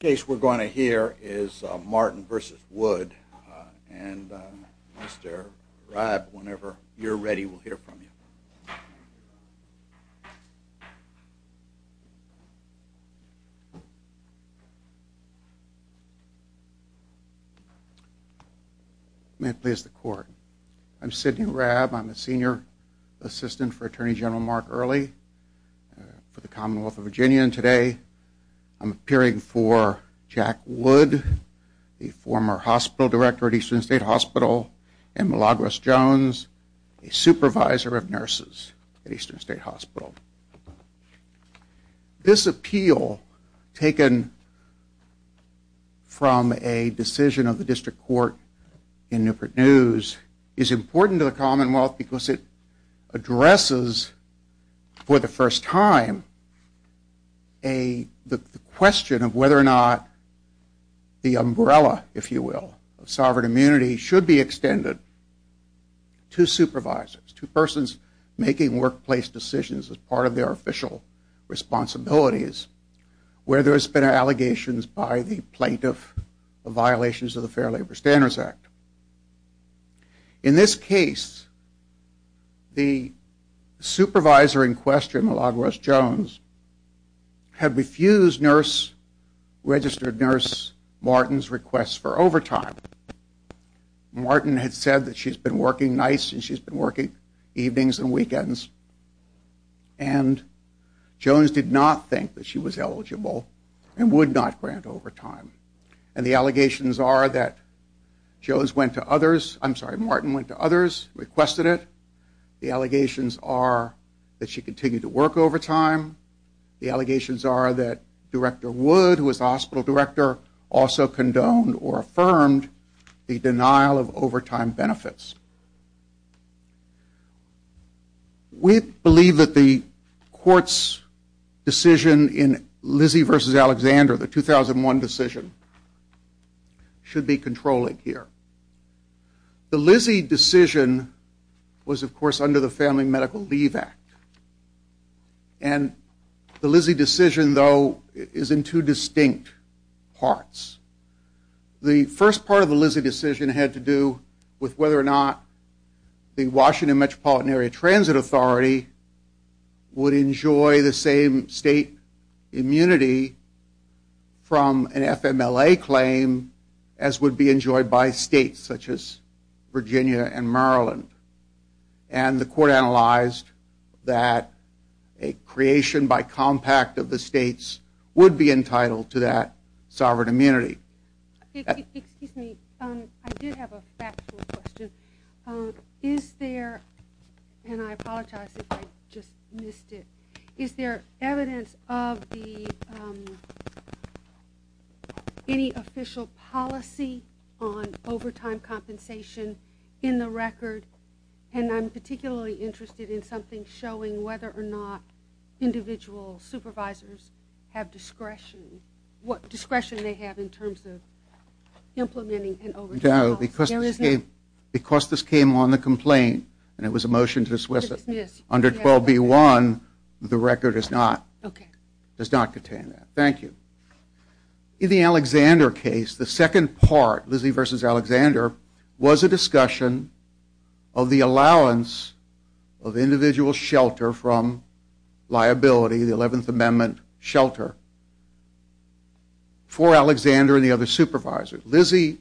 case we're going to hear is Martin v. Wood and Mr. Raab whenever you're ready we'll hear from you. May it please the court. I'm Sidney Raab. I'm a senior assistant for Attorney General Mark Early for the Commonwealth of Virginia and today I'm appearing for Jack Wood, the former hospital director at Eastern State Hospital, and Milagros Jones, a supervisor of nurses at Eastern State Hospital. This appeal, taken from a decision of the district court in Newport News, is important to the Commonwealth because it addresses, for the first time, the question of whether or not the umbrella, if you will, of sovereign immunity should be extended to supervisors, to persons making workplace decisions as part of their duties. As part of their official responsibilities, where there's been allegations by the plaintiff of violations of the Fair Labor Standards Act. In this case, the supervisor in question, Milagros Jones, had refused nurse, registered nurse Martin's request for overtime. Martin had said that she's been working nights and she's been working evenings and weekends and Jones did not think that she was eligible and would not grant overtime. And the allegations are that Jones went to others, I'm sorry, Martin went to others, requested it. The allegations are that she continued to work overtime. The allegations are that Director Wood, who was the hospital director, also condoned or affirmed the denial of overtime benefits. We believe that the court's decision in Lizzie v. Alexander, the 2001 decision, should be controlling here. The Lizzie decision was, of course, under the Family Medical Leave Act. And the Lizzie decision, though, is in two distinct parts. The first part of the Lizzie decision had to do with whether or not the Washington Metropolitan Area Transit Authority would enjoy the same state immunity from an FMLA claim as would be enjoyed by states such as Virginia and Maryland. And the court analyzed that a creation by compact of the states would be entitled to that sovereign immunity. Excuse me, I did have a factual question. Is there, and I apologize if I just missed it, is there evidence of any official policy on overtime compensation in the record? And I'm particularly interested in something showing whether or not individual supervisors have discretion, what discretion they have in terms of implementing an overtime policy. No, because this came on the complaint, and it was a motion to dismiss it, under 12b-1, the record does not contain that. Thank you. In the Alexander case, the second part, Lizzie v. Alexander, was a discussion of the allowance of individual shelter from liability, the 11th Amendment shelter, for Alexander and the other supervisors. Lizzie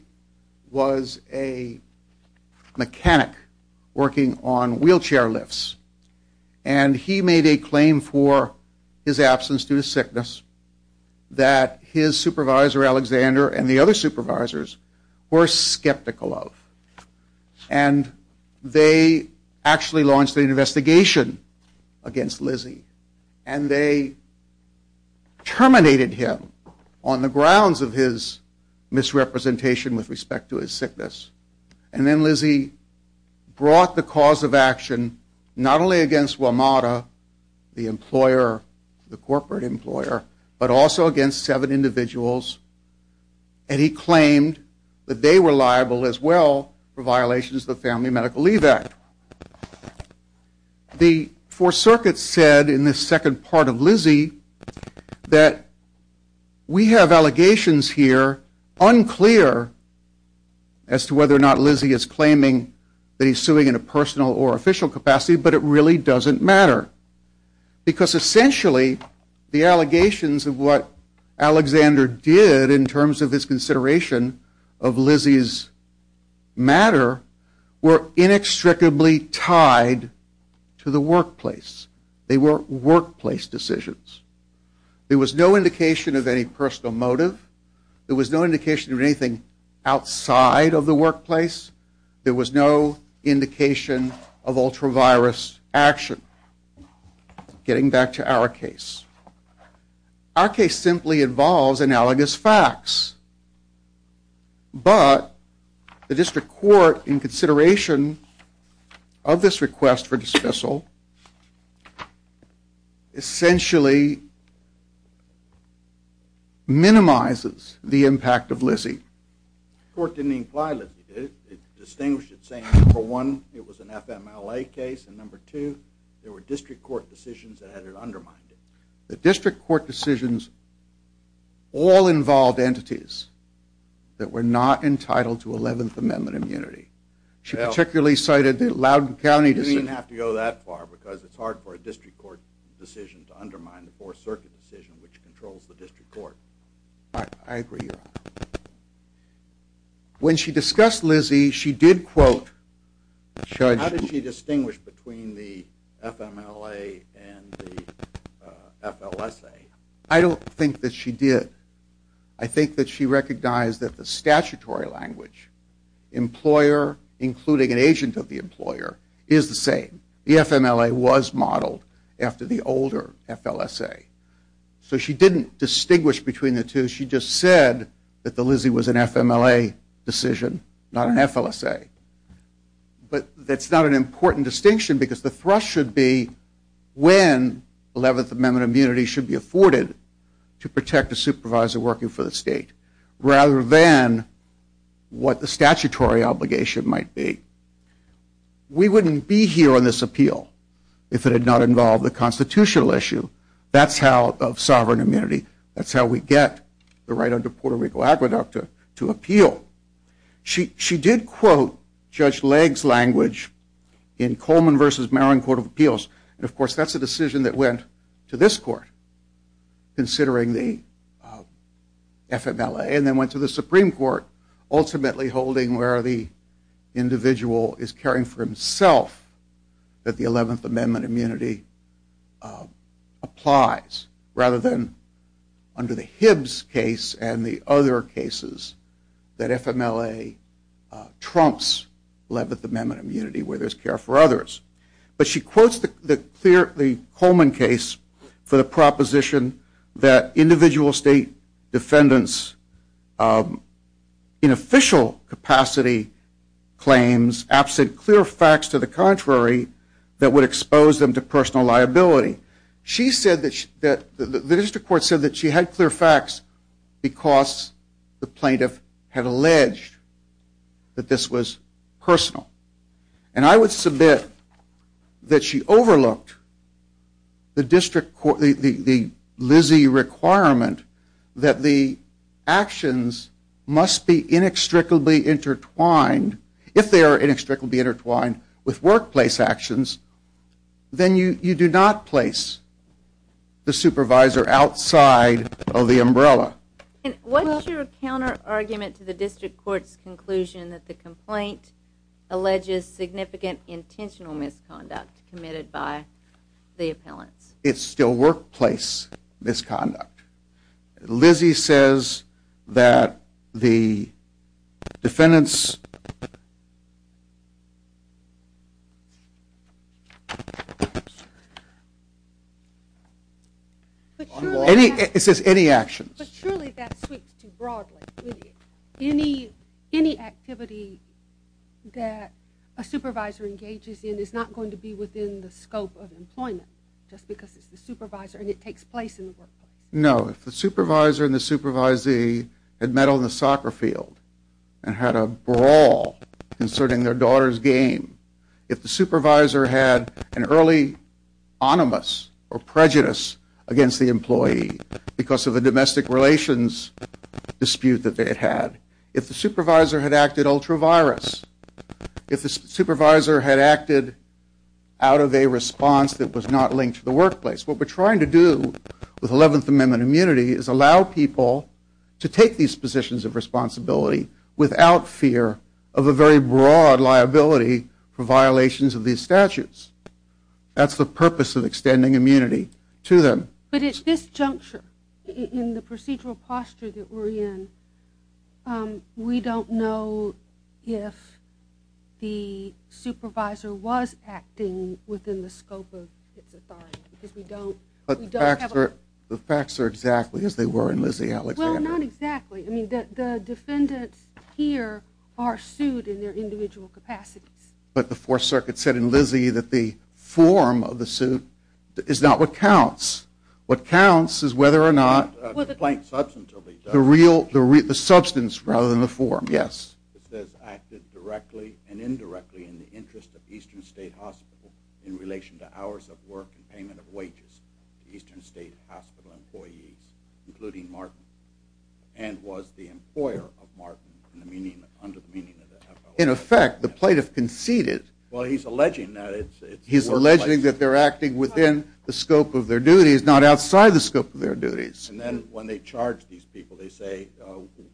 was a mechanic working on wheelchair lifts. And he made a claim for his absence due to sickness that his supervisor Alexander and the other supervisors were skeptical of. And they actually launched an investigation against Lizzie. And they terminated him on the grounds of his misrepresentation with respect to his sickness. And then Lizzie brought the cause of action not only against WMATA, the employer, the corporate employer, but also against seven individuals, and he claimed that they were liable as well for violations of the Family Medical Leave Act. The Fourth Circuit said in this second part of Lizzie that we have allegations here unclear as to whether or not Lizzie is claiming that he's suing in a personal or official capacity, but it really doesn't matter. Because essentially, the allegations of what Alexander did in terms of his consideration of Lizzie's matter were inextricably tied to the workplace. They were workplace decisions. There was no indication of any personal motive. There was no indication of anything outside of the workplace. There was no indication of ultra-virus action. Getting back to our case. Our case simply involves analogous facts. But the District Court, in consideration of this request for dismissal, essentially minimizes the impact of Lizzie. The Court didn't imply Lizzie did. It distinguished it saying, number one, it was an FMLA case, and number two, there were District Court decisions that had her undermined. The District Court decisions all involved entities that were not entitled to Eleventh Amendment immunity. She particularly cited the Loudoun County decision. You didn't have to go that far because it's hard for a District Court decision to undermine the Fourth Circuit decision, which controls the District Court. I agree, Your Honor. When she discussed Lizzie, she did quote Judge... How did she distinguish between the FMLA and the FLSA? I don't think that she did. I think that she recognized that the statutory language, employer including an agent of the employer, is the same. The FMLA was modeled after the older FLSA. So she didn't distinguish between the two. She just said that the Lizzie was an FMLA decision, not an FLSA. But that's not an important distinction because the thrust should be when Eleventh Amendment immunity should be afforded to protect a supervisor working for the state, rather than what the statutory obligation might be. We wouldn't be here on this appeal if it had not involved the constitutional issue. That's how, of sovereign immunity, that's how we get the right under Puerto Rico aqueduct to appeal. She did quote Judge Legg's language in Coleman v. Maron Court of Appeals. Of course, that's a decision that went to this court, considering the FMLA, and then went to the Supreme Court, ultimately holding where the individual is caring for himself, that the Eleventh Amendment immunity applies, rather than under the Hibbs case and the other cases that FMLA trumps Eleventh Amendment immunity where there's care for others. But she quotes the Coleman case for the proposition that individual state defendants in official capacity claims absent clear facts to the contrary that would expose them to personal liability. The district court said that she had clear facts because the plaintiff had alleged that this was personal. And I would submit that she overlooked the Lizzie requirement that the actions must be inextricably intertwined. If they are inextricably intertwined with workplace actions, then you do not place the supervisor outside of the umbrella. And what's your counter-argument to the district court's conclusion that the complaint alleges significant intentional misconduct committed by the appellants? It's still workplace misconduct. Lizzie says that the defendants... Clearly that sweeps too broadly. Any activity that a supervisor engages in is not going to be within the scope of employment, just because it's the supervisor and it takes place in the workplace. No, if the supervisor and the supervisee had met on the soccer field and had a brawl concerning their daughter's game, if the supervisor had an early onimus or prejudice against the employee because of the domestic relations dispute that they had had, if the supervisor had acted ultra-virus, if the supervisor had acted out of a response that was not linked to the workplace, what we're trying to do with 11th Amendment immunity is allow people to take these positions of responsibility without fear of a very broad liability for violations of these statutes. That's the purpose of extending immunity to them. But at this juncture, in the procedural posture that we're in, we don't know if the supervisor was acting within the scope of its authority. But the facts are exactly as they were in Lizzie Alexander. Well, not exactly. I mean, the defendants here are sued in their individual capacities. But the Fourth Circuit said in Lizzie that the form of the suit is not what counts. What counts is whether or not the substance rather than the form. Yes. It says acted directly and indirectly in the interest of Eastern State Hospital in relation to hours of work and payment of wages to Eastern State Hospital employees, including Martin, and was the employer of Martin under the meaning of the FOA. In effect, the plaintiff conceded. Well, he's alleging that it's the workplace. He's alleging that they're acting within the scope of their duties, not outside the scope of their duties. And then when they charge these people, they say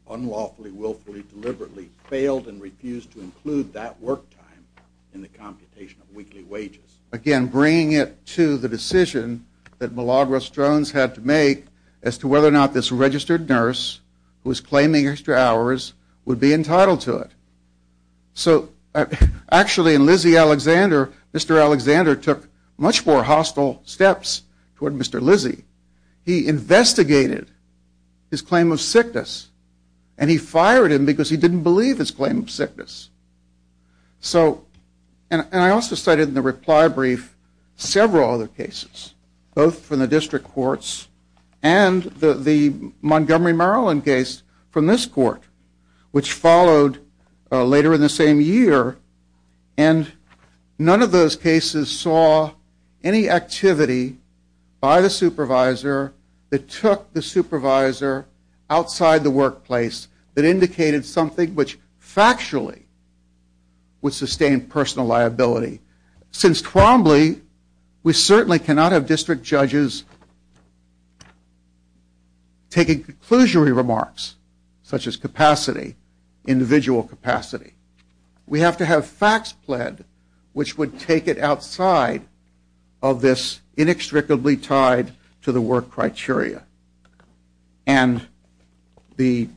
unlawfully, willfully, deliberately, failed and refused to include that work time in the computation of weekly wages. Again, bringing it to the decision that Milagros Jones had to make as to whether or not this registered nurse who was claiming extra hours would be entitled to it. So actually in Lizzie Alexander, Mr. Alexander took much more hostile steps toward Mr. Lizzie. He investigated his claim of sickness. And he fired him because he didn't believe his claim of sickness. So, and I also cited in the reply brief several other cases, both from the district courts and the Montgomery, Maryland case from this court, which followed later in the same year. And none of those cases saw any activity by the supervisor that took the supervisor outside the workplace that indicated something which factually would sustain personal liability. Since Trombley, we certainly cannot have district judges taking conclusionary remarks, such as capacity, individual capacity. We have to have facts pled which would take it outside of this inextricably tied to the work criteria. And the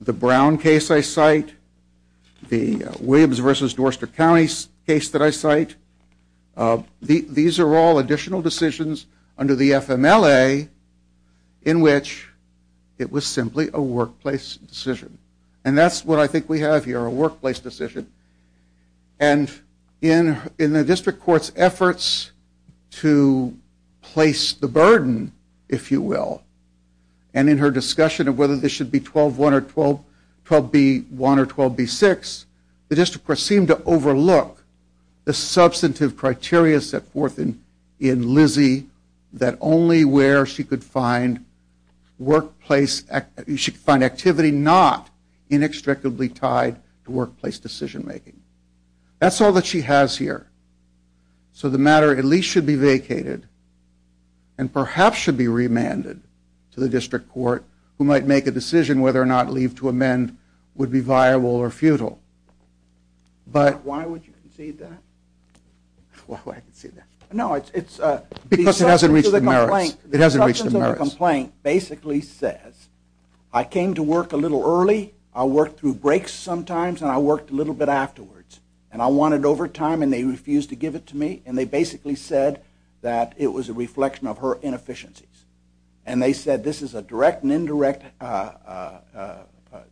Brown case I cite, the Williams versus Dorster County case that I cite, these are all additional decisions under the FMLA in which it was simply a workplace decision. And that's what I think we have here, a workplace decision. And in the district court's efforts to place the burden, if you will, and in her discussion of whether this should be 12-1 or 12-B-1 or 12-B-6, the district court seemed to overlook the substantive criteria set forth in Lizzie that only where she could find activity not inextricably tied to workplace decision-making. That's all that she has here. So the matter at least should be vacated and perhaps should be remanded to the district court who might make a decision whether or not leave to amend would be viable or futile. But why would you concede that? Why would I concede that? No, it's because it hasn't reached the merits. The substance of the complaint basically says I came to work a little early, I worked through breaks sometimes, and I worked a little bit afterwards. And I wanted overtime and they refused to give it to me, and they basically said that it was a reflection of her inefficiencies. And they said this is a direct and indirect,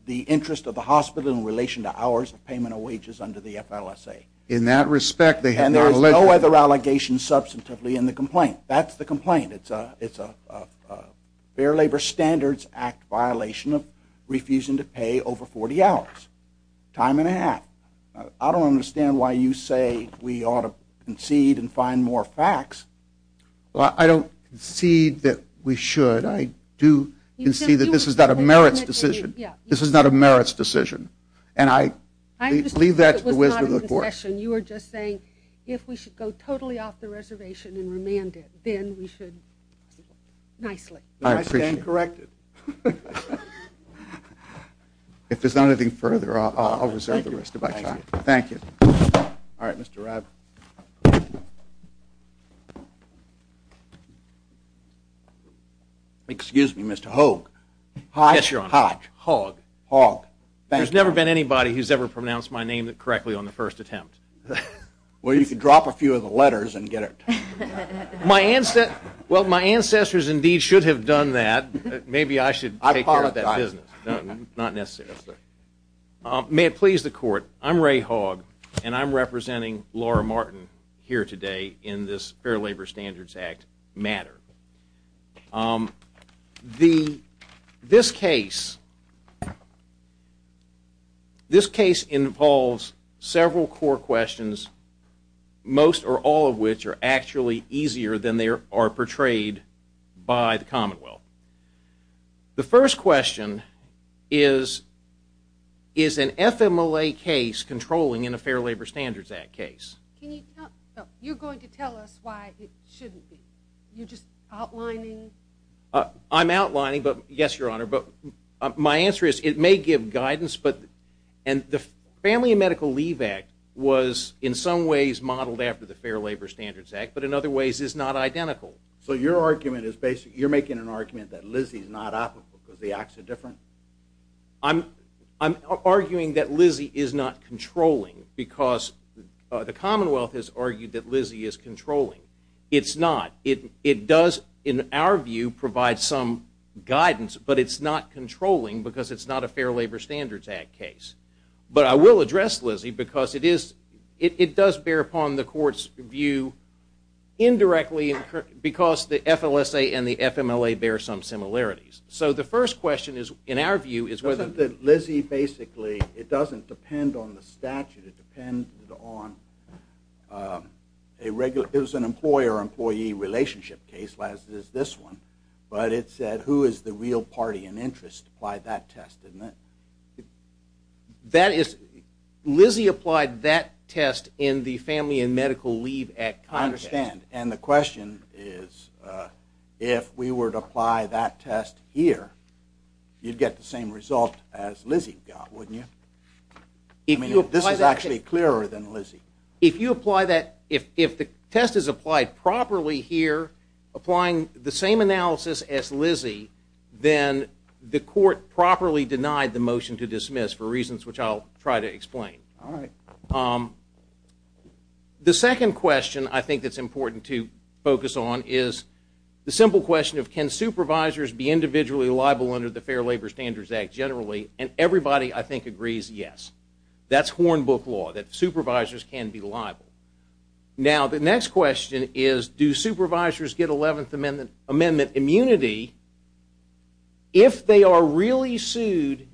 the interest of the hospital in relation to hours of payment of wages under the FLSA. In that respect, they have not alleged that. And there is no other allegation substantively in the complaint. That's the complaint. It's a Fair Labor Standards Act violation of refusing to pay over 40 hours, time and a half. I don't understand why you say we ought to concede and find more facts. I don't concede that we should. I do concede that this is not a merits decision. This is not a merits decision. And I leave that to the wisdom of the court. You were just saying if we should go totally off the reservation and remand it, then we should nicely. I stand corrected. If there's nothing further, I'll reserve the rest of my time. Thank you. All right, Mr. Rabb. Excuse me, Mr. Hogg. Yes, Your Honor. Hogg. Hogg. Thank you. There's never been anybody who's ever pronounced my name correctly on the first attempt. Well, you can drop a few of the letters and get it. Well, my ancestors indeed should have done that. Maybe I should take care of that business. I apologize. Not necessarily. May it please the court, I'm Ray Hogg, and I'm representing Laura Martin here today in this Fair Labor Standards Act matter. This case involves several core questions, most or all of which are actually easier than they are portrayed by the Commonwealth. The first question is, is an FMLA case controlling in a Fair Labor Standards Act case? You're going to tell us why it shouldn't be. You're just outlining. I'm outlining, but yes, Your Honor. My answer is it may give guidance, and the Family and Medical Leave Act was in some ways modeled after the Fair Labor Standards Act, but in other ways is not identical. So you're making an argument that Lizzie's not applicable because the acts are different? I'm arguing that Lizzie is not controlling because the Commonwealth has argued that Lizzie is controlling. It's not. It does, in our view, provide some guidance, but it's not controlling because it's not a Fair Labor Standards Act case. But I will address Lizzie because it does bear upon the Court's view indirectly because the FLSA and the FMLA bear some similarities. So the first question in our view is whether... Doesn't Lizzie basically... It doesn't depend on the statute. It depends on... It was an employer-employee relationship case, as is this one, but it said who is the real party in interest to apply that test. That is... Lizzie applied that test in the Family and Medical Leave Act context. I understand. And the question is if we were to apply that test here, you'd get the same result as Lizzie got, wouldn't you? I mean, this is actually clearer than Lizzie. If you apply that... If the test is applied properly here, applying the same analysis as Lizzie, then the Court properly denied the motion to dismiss for reasons which I'll try to explain. All right. The second question I think that's important to focus on is the simple question of can supervisors be individually liable under the Fair Labor Standards Act generally? And everybody, I think, agrees yes. That's Hornbook law, that supervisors can be liable. Now, the next question is do supervisors get Eleventh Amendment immunity if they are really sued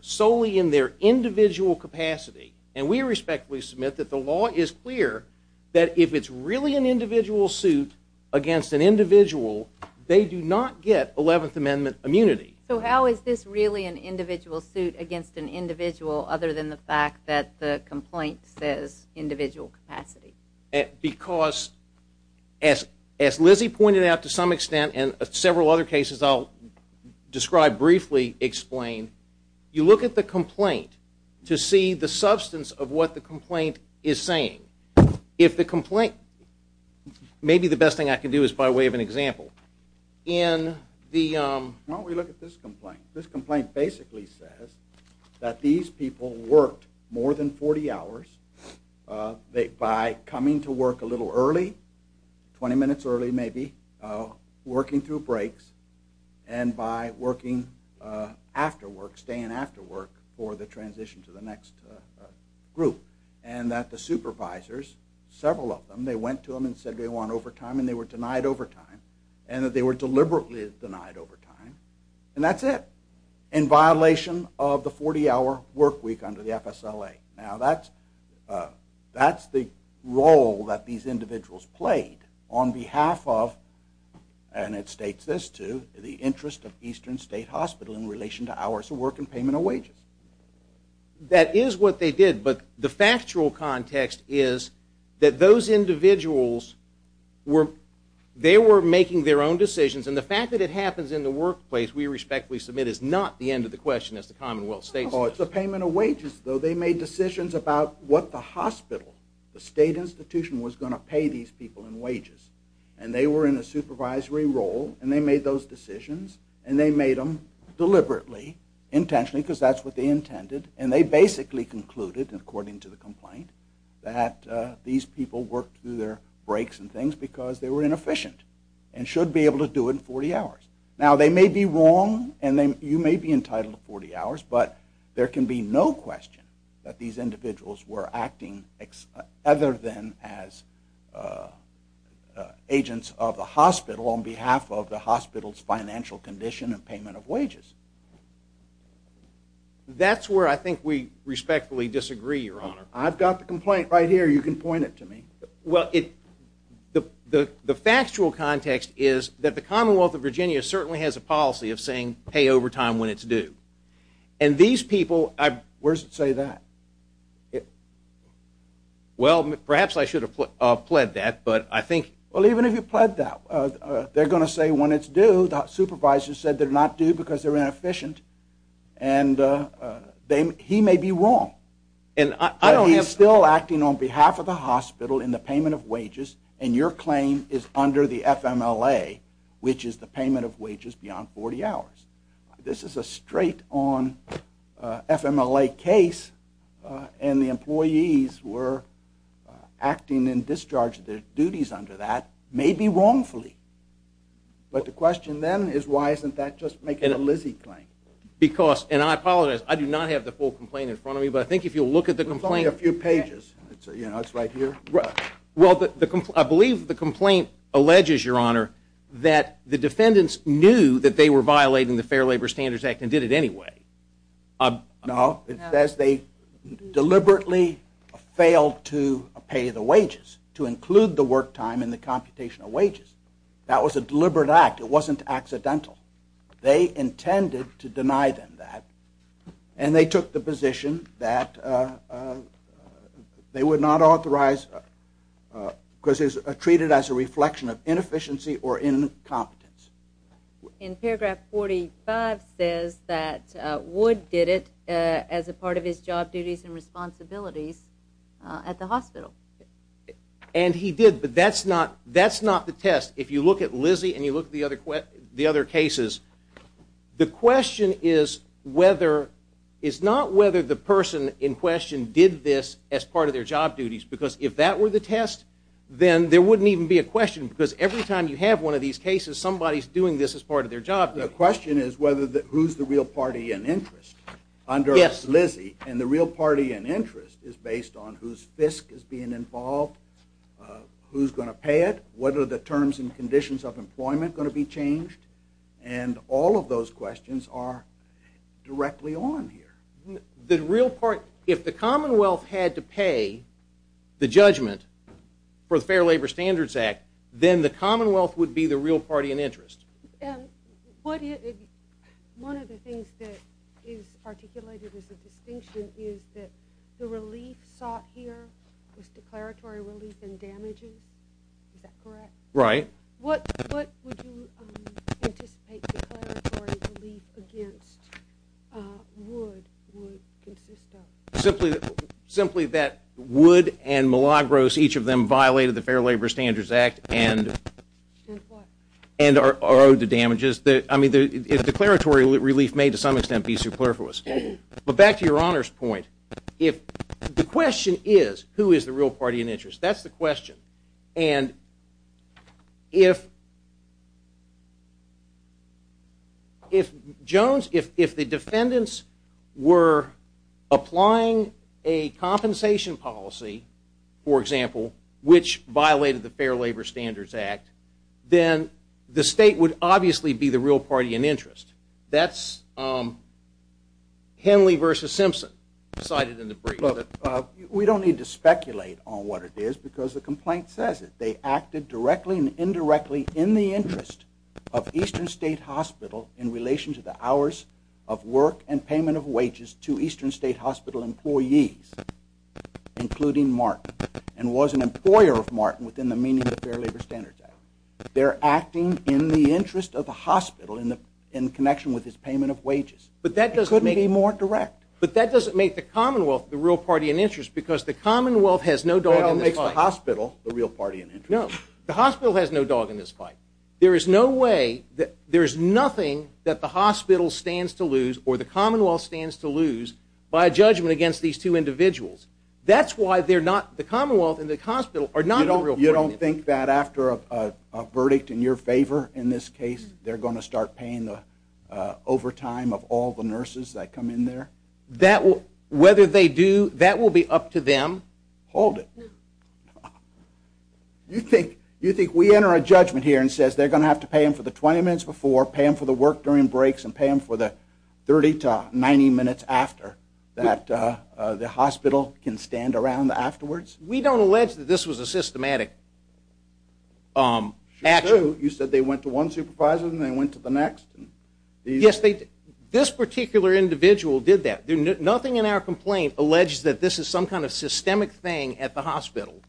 solely in their individual capacity? And we respectfully submit that the law is clear that if it's really an individual suit against an individual, they do not get Eleventh Amendment immunity. So how is this really an individual suit against an individual other than the fact that the complaint says individual capacity? Because as Lizzie pointed out to some extent and several other cases I'll describe briefly, explain, you look at the complaint to see the substance of what the complaint is saying. If the complaint... Maybe the best thing I can do is by way of an example. In the... Why don't we look at this complaint? This complaint basically says that these people worked more than 40 hours by coming to work a little early, 20 minutes early maybe, working through breaks and by working after work, staying after work for the transition to the next group. And that the supervisors, several of them, they went to them and said they want overtime and they were denied overtime and that they were deliberately denied overtime. And that's it. In violation of the 40-hour work week under the FSLA. Now that's the role that these individuals played on behalf of, and it states this too, the interest of Eastern State Hospital in relation to hours of work and payment of wages. That is what they did, but the factual context is that those individuals were... They were making their own decisions and the fact that it happens in the workplace, we respectfully submit, is not the end of the question as the Commonwealth States does. It's the payment of wages, though. They made decisions about what the hospital, the state institution was going to pay these people in wages. And they were in a supervisory role and they made those decisions and they made them deliberately, intentionally, because that's what they intended. And they basically concluded, according to the complaint, that these people worked through their breaks and things because they were inefficient and should be able to do it in 40 hours. Now they may be wrong and you may be entitled to 40 hours, but there can be no question that these individuals were acting other than as agents of the hospital on behalf of the hospital's financial condition and payment of wages. That's where I think we respectfully disagree, Your Honor. I've got the complaint right here. You can point it to me. Well, the factual context is that the Commonwealth of Virginia certainly has a policy of saying pay overtime when it's due. And these people, I've- Where does it say that? Well, perhaps I should have pled that, but I think- Well, even if you pled that, they're going to say when it's due, the supervisor said they're not due because they're inefficient. And he may be wrong. But he's still acting on behalf of the hospital in the payment of wages, and your claim is under the FMLA, which is the payment of wages beyond 40 hours. This is a straight-on FMLA case, and the employees were acting in discharge of their duties under that, may be wrongfully. But the question then is why isn't that just making a Lizzie claim? Because, and I apologize, I do not have the full complaint in front of me, but I think if you'll look at the complaint- There's only a few pages. You know, it's right here. Well, I believe the complaint alleges, Your Honor, that the defendants knew that they were violating the Fair Labor Standards Act and did it anyway. No. It says they deliberately failed to pay the wages, to include the work time in the computation of wages. That was a deliberate act. It wasn't accidental. They intended to deny them that, and they took the position that they would not authorize, because it was treated as a reflection of inefficiency or incompetence. In paragraph 45 says that Wood did it as a part of his job duties and responsibilities at the hospital. And he did, but that's not the test. If you look at Lizzie and you look at the other cases, the question is not whether the person in question did this as part of their job duties, because if that were the test, then there wouldn't even be a question, because every time you have one of these cases, somebody's doing this as part of their job duties. The question is who's the real party in interest under Lizzie, and the real party in interest is based on whose fisc is being involved, who's going to pay it, what are the terms and conditions of employment going to be changed, and all of those questions are directly on here. If the Commonwealth had to pay the judgment for the Fair Labor Standards Act, then the Commonwealth would be the real party in interest. One of the things that is articulated as a distinction is that the relief sought here was declaratory relief in damages. Is that correct? Right. What would you anticipate declaratory relief against would consist of? Simply that would and Milagros, each of them, violated the Fair Labor Standards Act and are owed the damages. I mean, the declaratory relief may to some extent be superfluous. But back to your Honor's point, the question is who is the real party in interest. That's the question. And if the defendants were applying a compensation policy, for example, which violated the Fair Labor Standards Act, then the state would obviously be the real party in interest. That's Henley v. Simpson cited in the brief. We don't need to speculate on what it is because the complaint says it. They acted directly and indirectly in the interest of Eastern State Hospital in relation to the hours of work and payment of wages to Eastern State Hospital employees, including Martin, and was an employer of Martin within the meaning of the Fair Labor Standards Act. They're acting in the interest of the hospital in connection with his payment of wages. It couldn't be more direct. But that doesn't make the Commonwealth the real party in interest because the Commonwealth has no dog in this fight. Well, it makes the hospital the real party in interest. No, the hospital has no dog in this fight. There is no way, there is nothing that the hospital stands to lose or the Commonwealth stands to lose by a judgment against these two individuals. That's why they're not, the Commonwealth and the hospital are not the real party in interest. You don't think that after a verdict in your favor in this case, they're going to start paying the overtime of all the nurses that come in there? Whether they do, that will be up to them. Hold it. You think we enter a judgment here and says they're going to have to pay them for the 20 minutes before, pay them for the work during breaks, and pay them for the 30 to 90 minutes after that the hospital can stand around afterwards? We don't allege that this was a systematic action. You said they went to one supervisor and they went to the next? Yes, this particular individual did that. Nothing in our complaint alleges that this is some kind of systemic thing at the hospital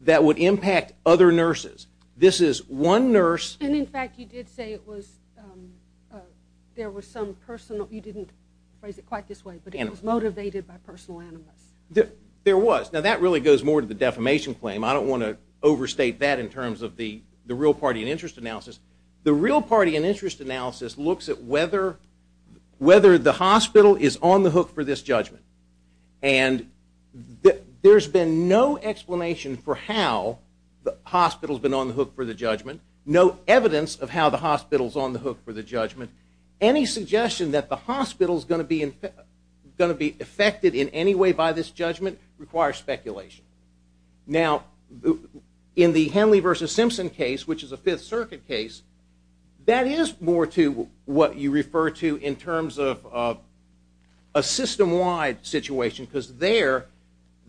that would impact other nurses. This is one nurse. And in fact you did say it was, there was some personal, you didn't phrase it quite this way, but it was motivated by personal animus. There was. Now that really goes more to the defamation claim. I don't want to overstate that in terms of the real party and interest analysis. The real party and interest analysis looks at whether the hospital is on the hook for this judgment. And there's been no explanation for how the hospital's been on the hook for the judgment, no evidence of how the hospital's on the hook for the judgment. Any suggestion that the hospital's going to be affected in any way by this judgment requires speculation. Now, in the Henley v. Simpson case, which is a Fifth Circuit case, that is more to what you refer to in terms of a system-wide situation because there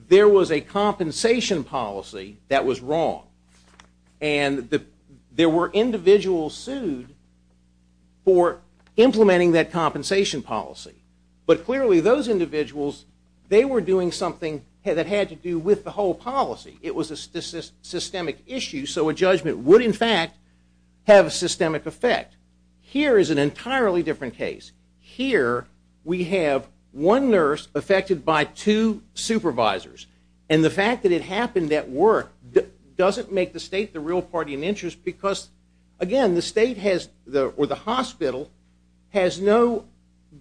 was a compensation policy that was wrong. And there were individuals sued for implementing that compensation policy. But clearly those individuals, they were doing something that had to do with the whole policy. It was a systemic issue. So a judgment would, in fact, have a systemic effect. Here is an entirely different case. Here we have one nurse affected by two supervisors. And the fact that it happened at work doesn't make the state the real party and interest because, again, the state or the hospital has no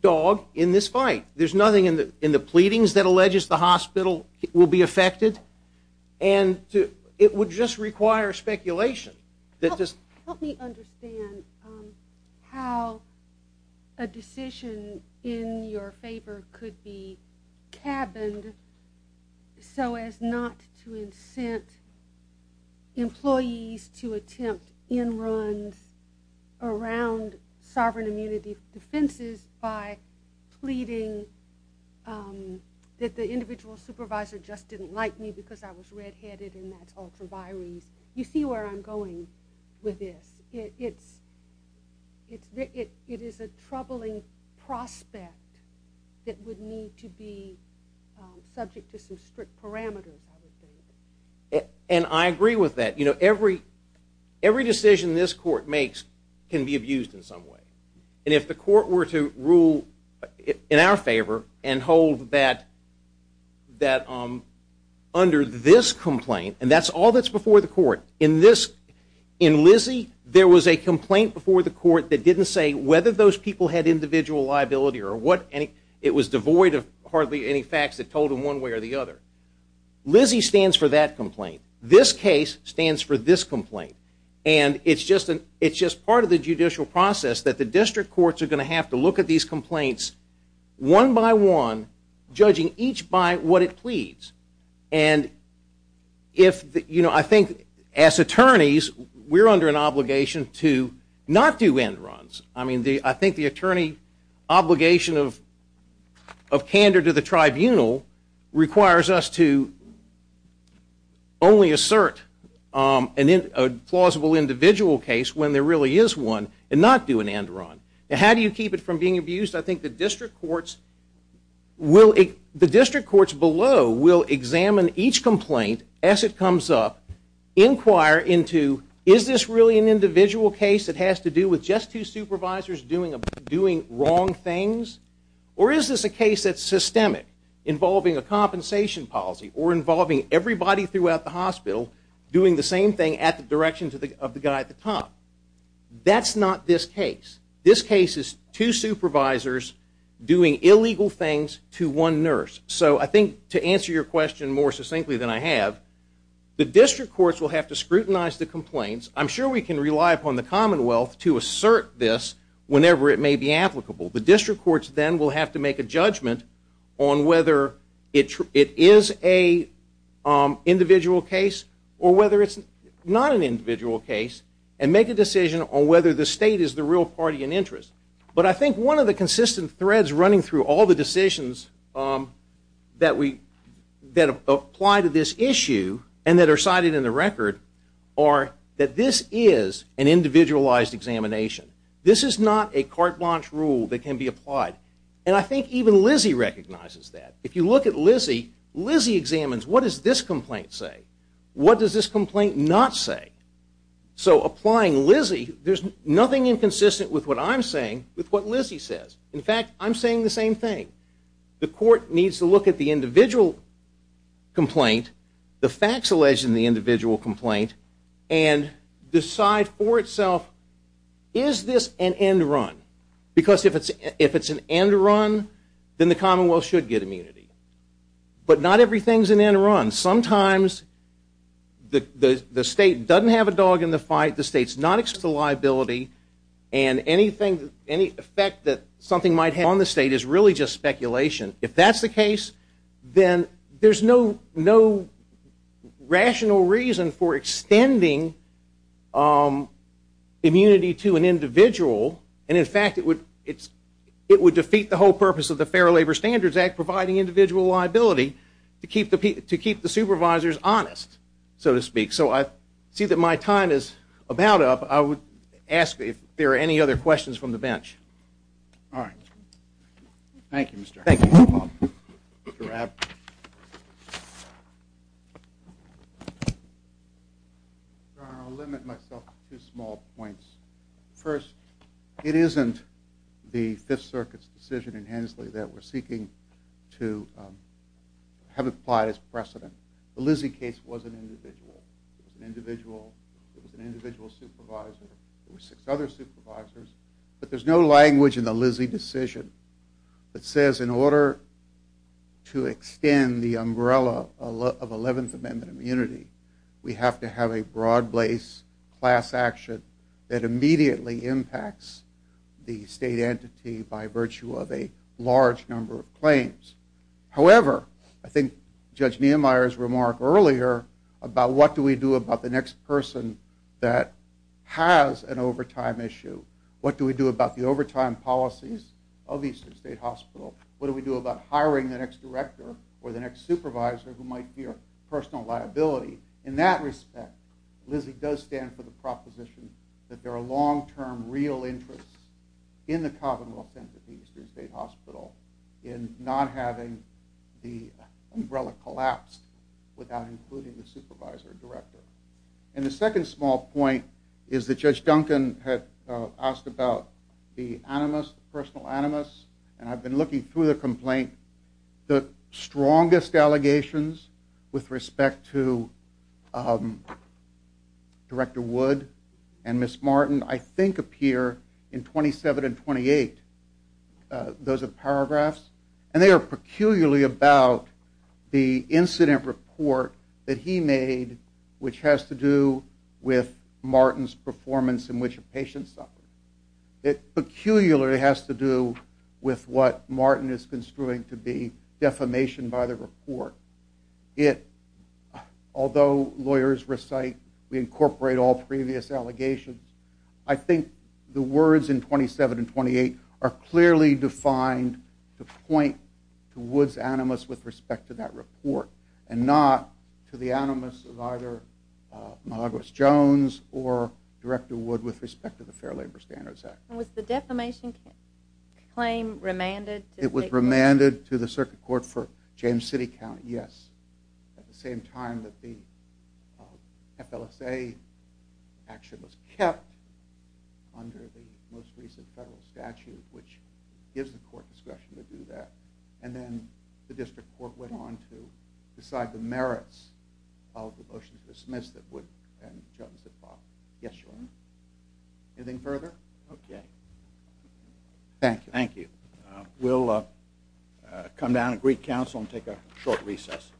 dog in this fight. There's nothing in the pleadings that alleges the hospital will be affected. And it would just require speculation. Help me understand how a decision in your favor could be cabined so as not to incent employees to attempt in-runs around sovereign immunity defenses by pleading that the individual supervisor just didn't like me because I was red-headed and that's ultra-vires. You see where I'm going with this. It is a troubling prospect that would need to be subject to some strict parameters. And I agree with that. You know, every decision this court makes can be abused in some way. And if the court were to rule in our favor and hold that under this complaint, and that's all that's before the court. In Lizzie, there was a complaint before the court that didn't say whether those people had individual liability or what. It was devoid of hardly any facts that told them one way or the other. Lizzie stands for that complaint. This case stands for this complaint. And it's just part of the judicial process that the district courts are going to have And I think as attorneys, we're under an obligation to not do in-runs. I think the attorney obligation of candor to the tribunal requires us to only assert a plausible individual case when there really is one and not do an in-run. How do you keep it from being abused? I think the district courts below will examine each complaint as it comes up, inquire into is this really an individual case that has to do with just two supervisors doing wrong things? Or is this a case that's systemic involving a compensation policy or involving everybody throughout the hospital doing the same thing at the direction of the guy at the top? That's not this case. This case is two supervisors doing illegal things to one nurse. So I think to answer your question more succinctly than I have, the district courts will have to scrutinize the complaints. I'm sure we can rely upon the commonwealth to assert this whenever it may be applicable. The district courts then will have to make a judgment on whether it is an individual case or whether it's not an individual case and make a decision on whether the state is the real party in interest. But I think one of the consistent threads running through all the decisions that apply to this issue and that are cited in the record are that this is an individualized examination. This is not a carte blanche rule that can be applied. And I think even Lizzie recognizes that. If you look at Lizzie, Lizzie examines what does this complaint say? What does this complaint not say? So applying Lizzie, there's nothing inconsistent with what I'm saying with what Lizzie says. In fact, I'm saying the same thing. The court needs to look at the individual complaint, the facts alleged in the individual complaint, and decide for itself, is this an end run? Because if it's an end run, then the commonwealth should get immunity. But not everything is an end run. Sometimes the state doesn't have a dog in the fight. The state's not exposed to liability. And any effect that something might have on the state is really just speculation. If that's the case, then there's no rational reason for extending immunity to an individual. And, in fact, it would defeat the whole purpose of the Fair Labor Standards Act, providing individual liability, to keep the supervisors honest, so to speak. So I see that my time is about up. I would ask if there are any other questions from the bench. All right. Thank you, Mr. Rapp. Thank you, Mr. Paul. Mr. Rapp. I'll limit myself to two small points. First, it isn't the Fifth Circuit's decision in Hensley that we're seeking to have applied as precedent. The Lizzie case was an individual. It was an individual supervisor. There were six other supervisors. But there's no language in the Lizzie decision that says, in order to extend the umbrella of 11th Amendment immunity, we have to have a broad-based class action that immediately impacts the state entity by virtue of a large number of claims. However, I think Judge Niemeyer's remark earlier about what do we do about the next person that has an overtime issue, what do we do about the overtime policies of Eastern State Hospital, what do we do about hiring the next director or the next supervisor who might fear personal liability, in that respect, Lizzie does stand for the proposition that there are long-term real interests in the Commonwealth Center at the Eastern State Hospital in not having the umbrella collapsed without including the supervisor director. And the second small point is that Judge Duncan had asked about the animus, the personal animus, and I've been looking through the complaint. The strongest allegations with respect to Director Wood and Ms. Martin, I think, appear in 27 and 28. Those are paragraphs. And they are peculiarly about the incident report that he made, which has to do with Martin's performance in which a patient suffered. It peculiarly has to do with what Martin is construing to be defamation by the report. Although lawyers recite, we incorporate all previous allegations, I think the words in 27 and 28 are clearly defined to point to Wood's animus with respect to that report and not to the animus of either Milagros Jones or Director Wood with respect to the Fair Labor Standards Act. Was the defamation claim remanded? It was remanded to the circuit court for James City County, yes, at the same time that the FLSA action was kept under the most recent federal statute, which gives the court discretion to do that. And then the district court went on to decide the merits of the motion to dismiss that Wood and Jones had filed. Yes, Your Honor. Anything further? Okay. Thank you. Thank you. We'll come down at Greek Council and take a short recess.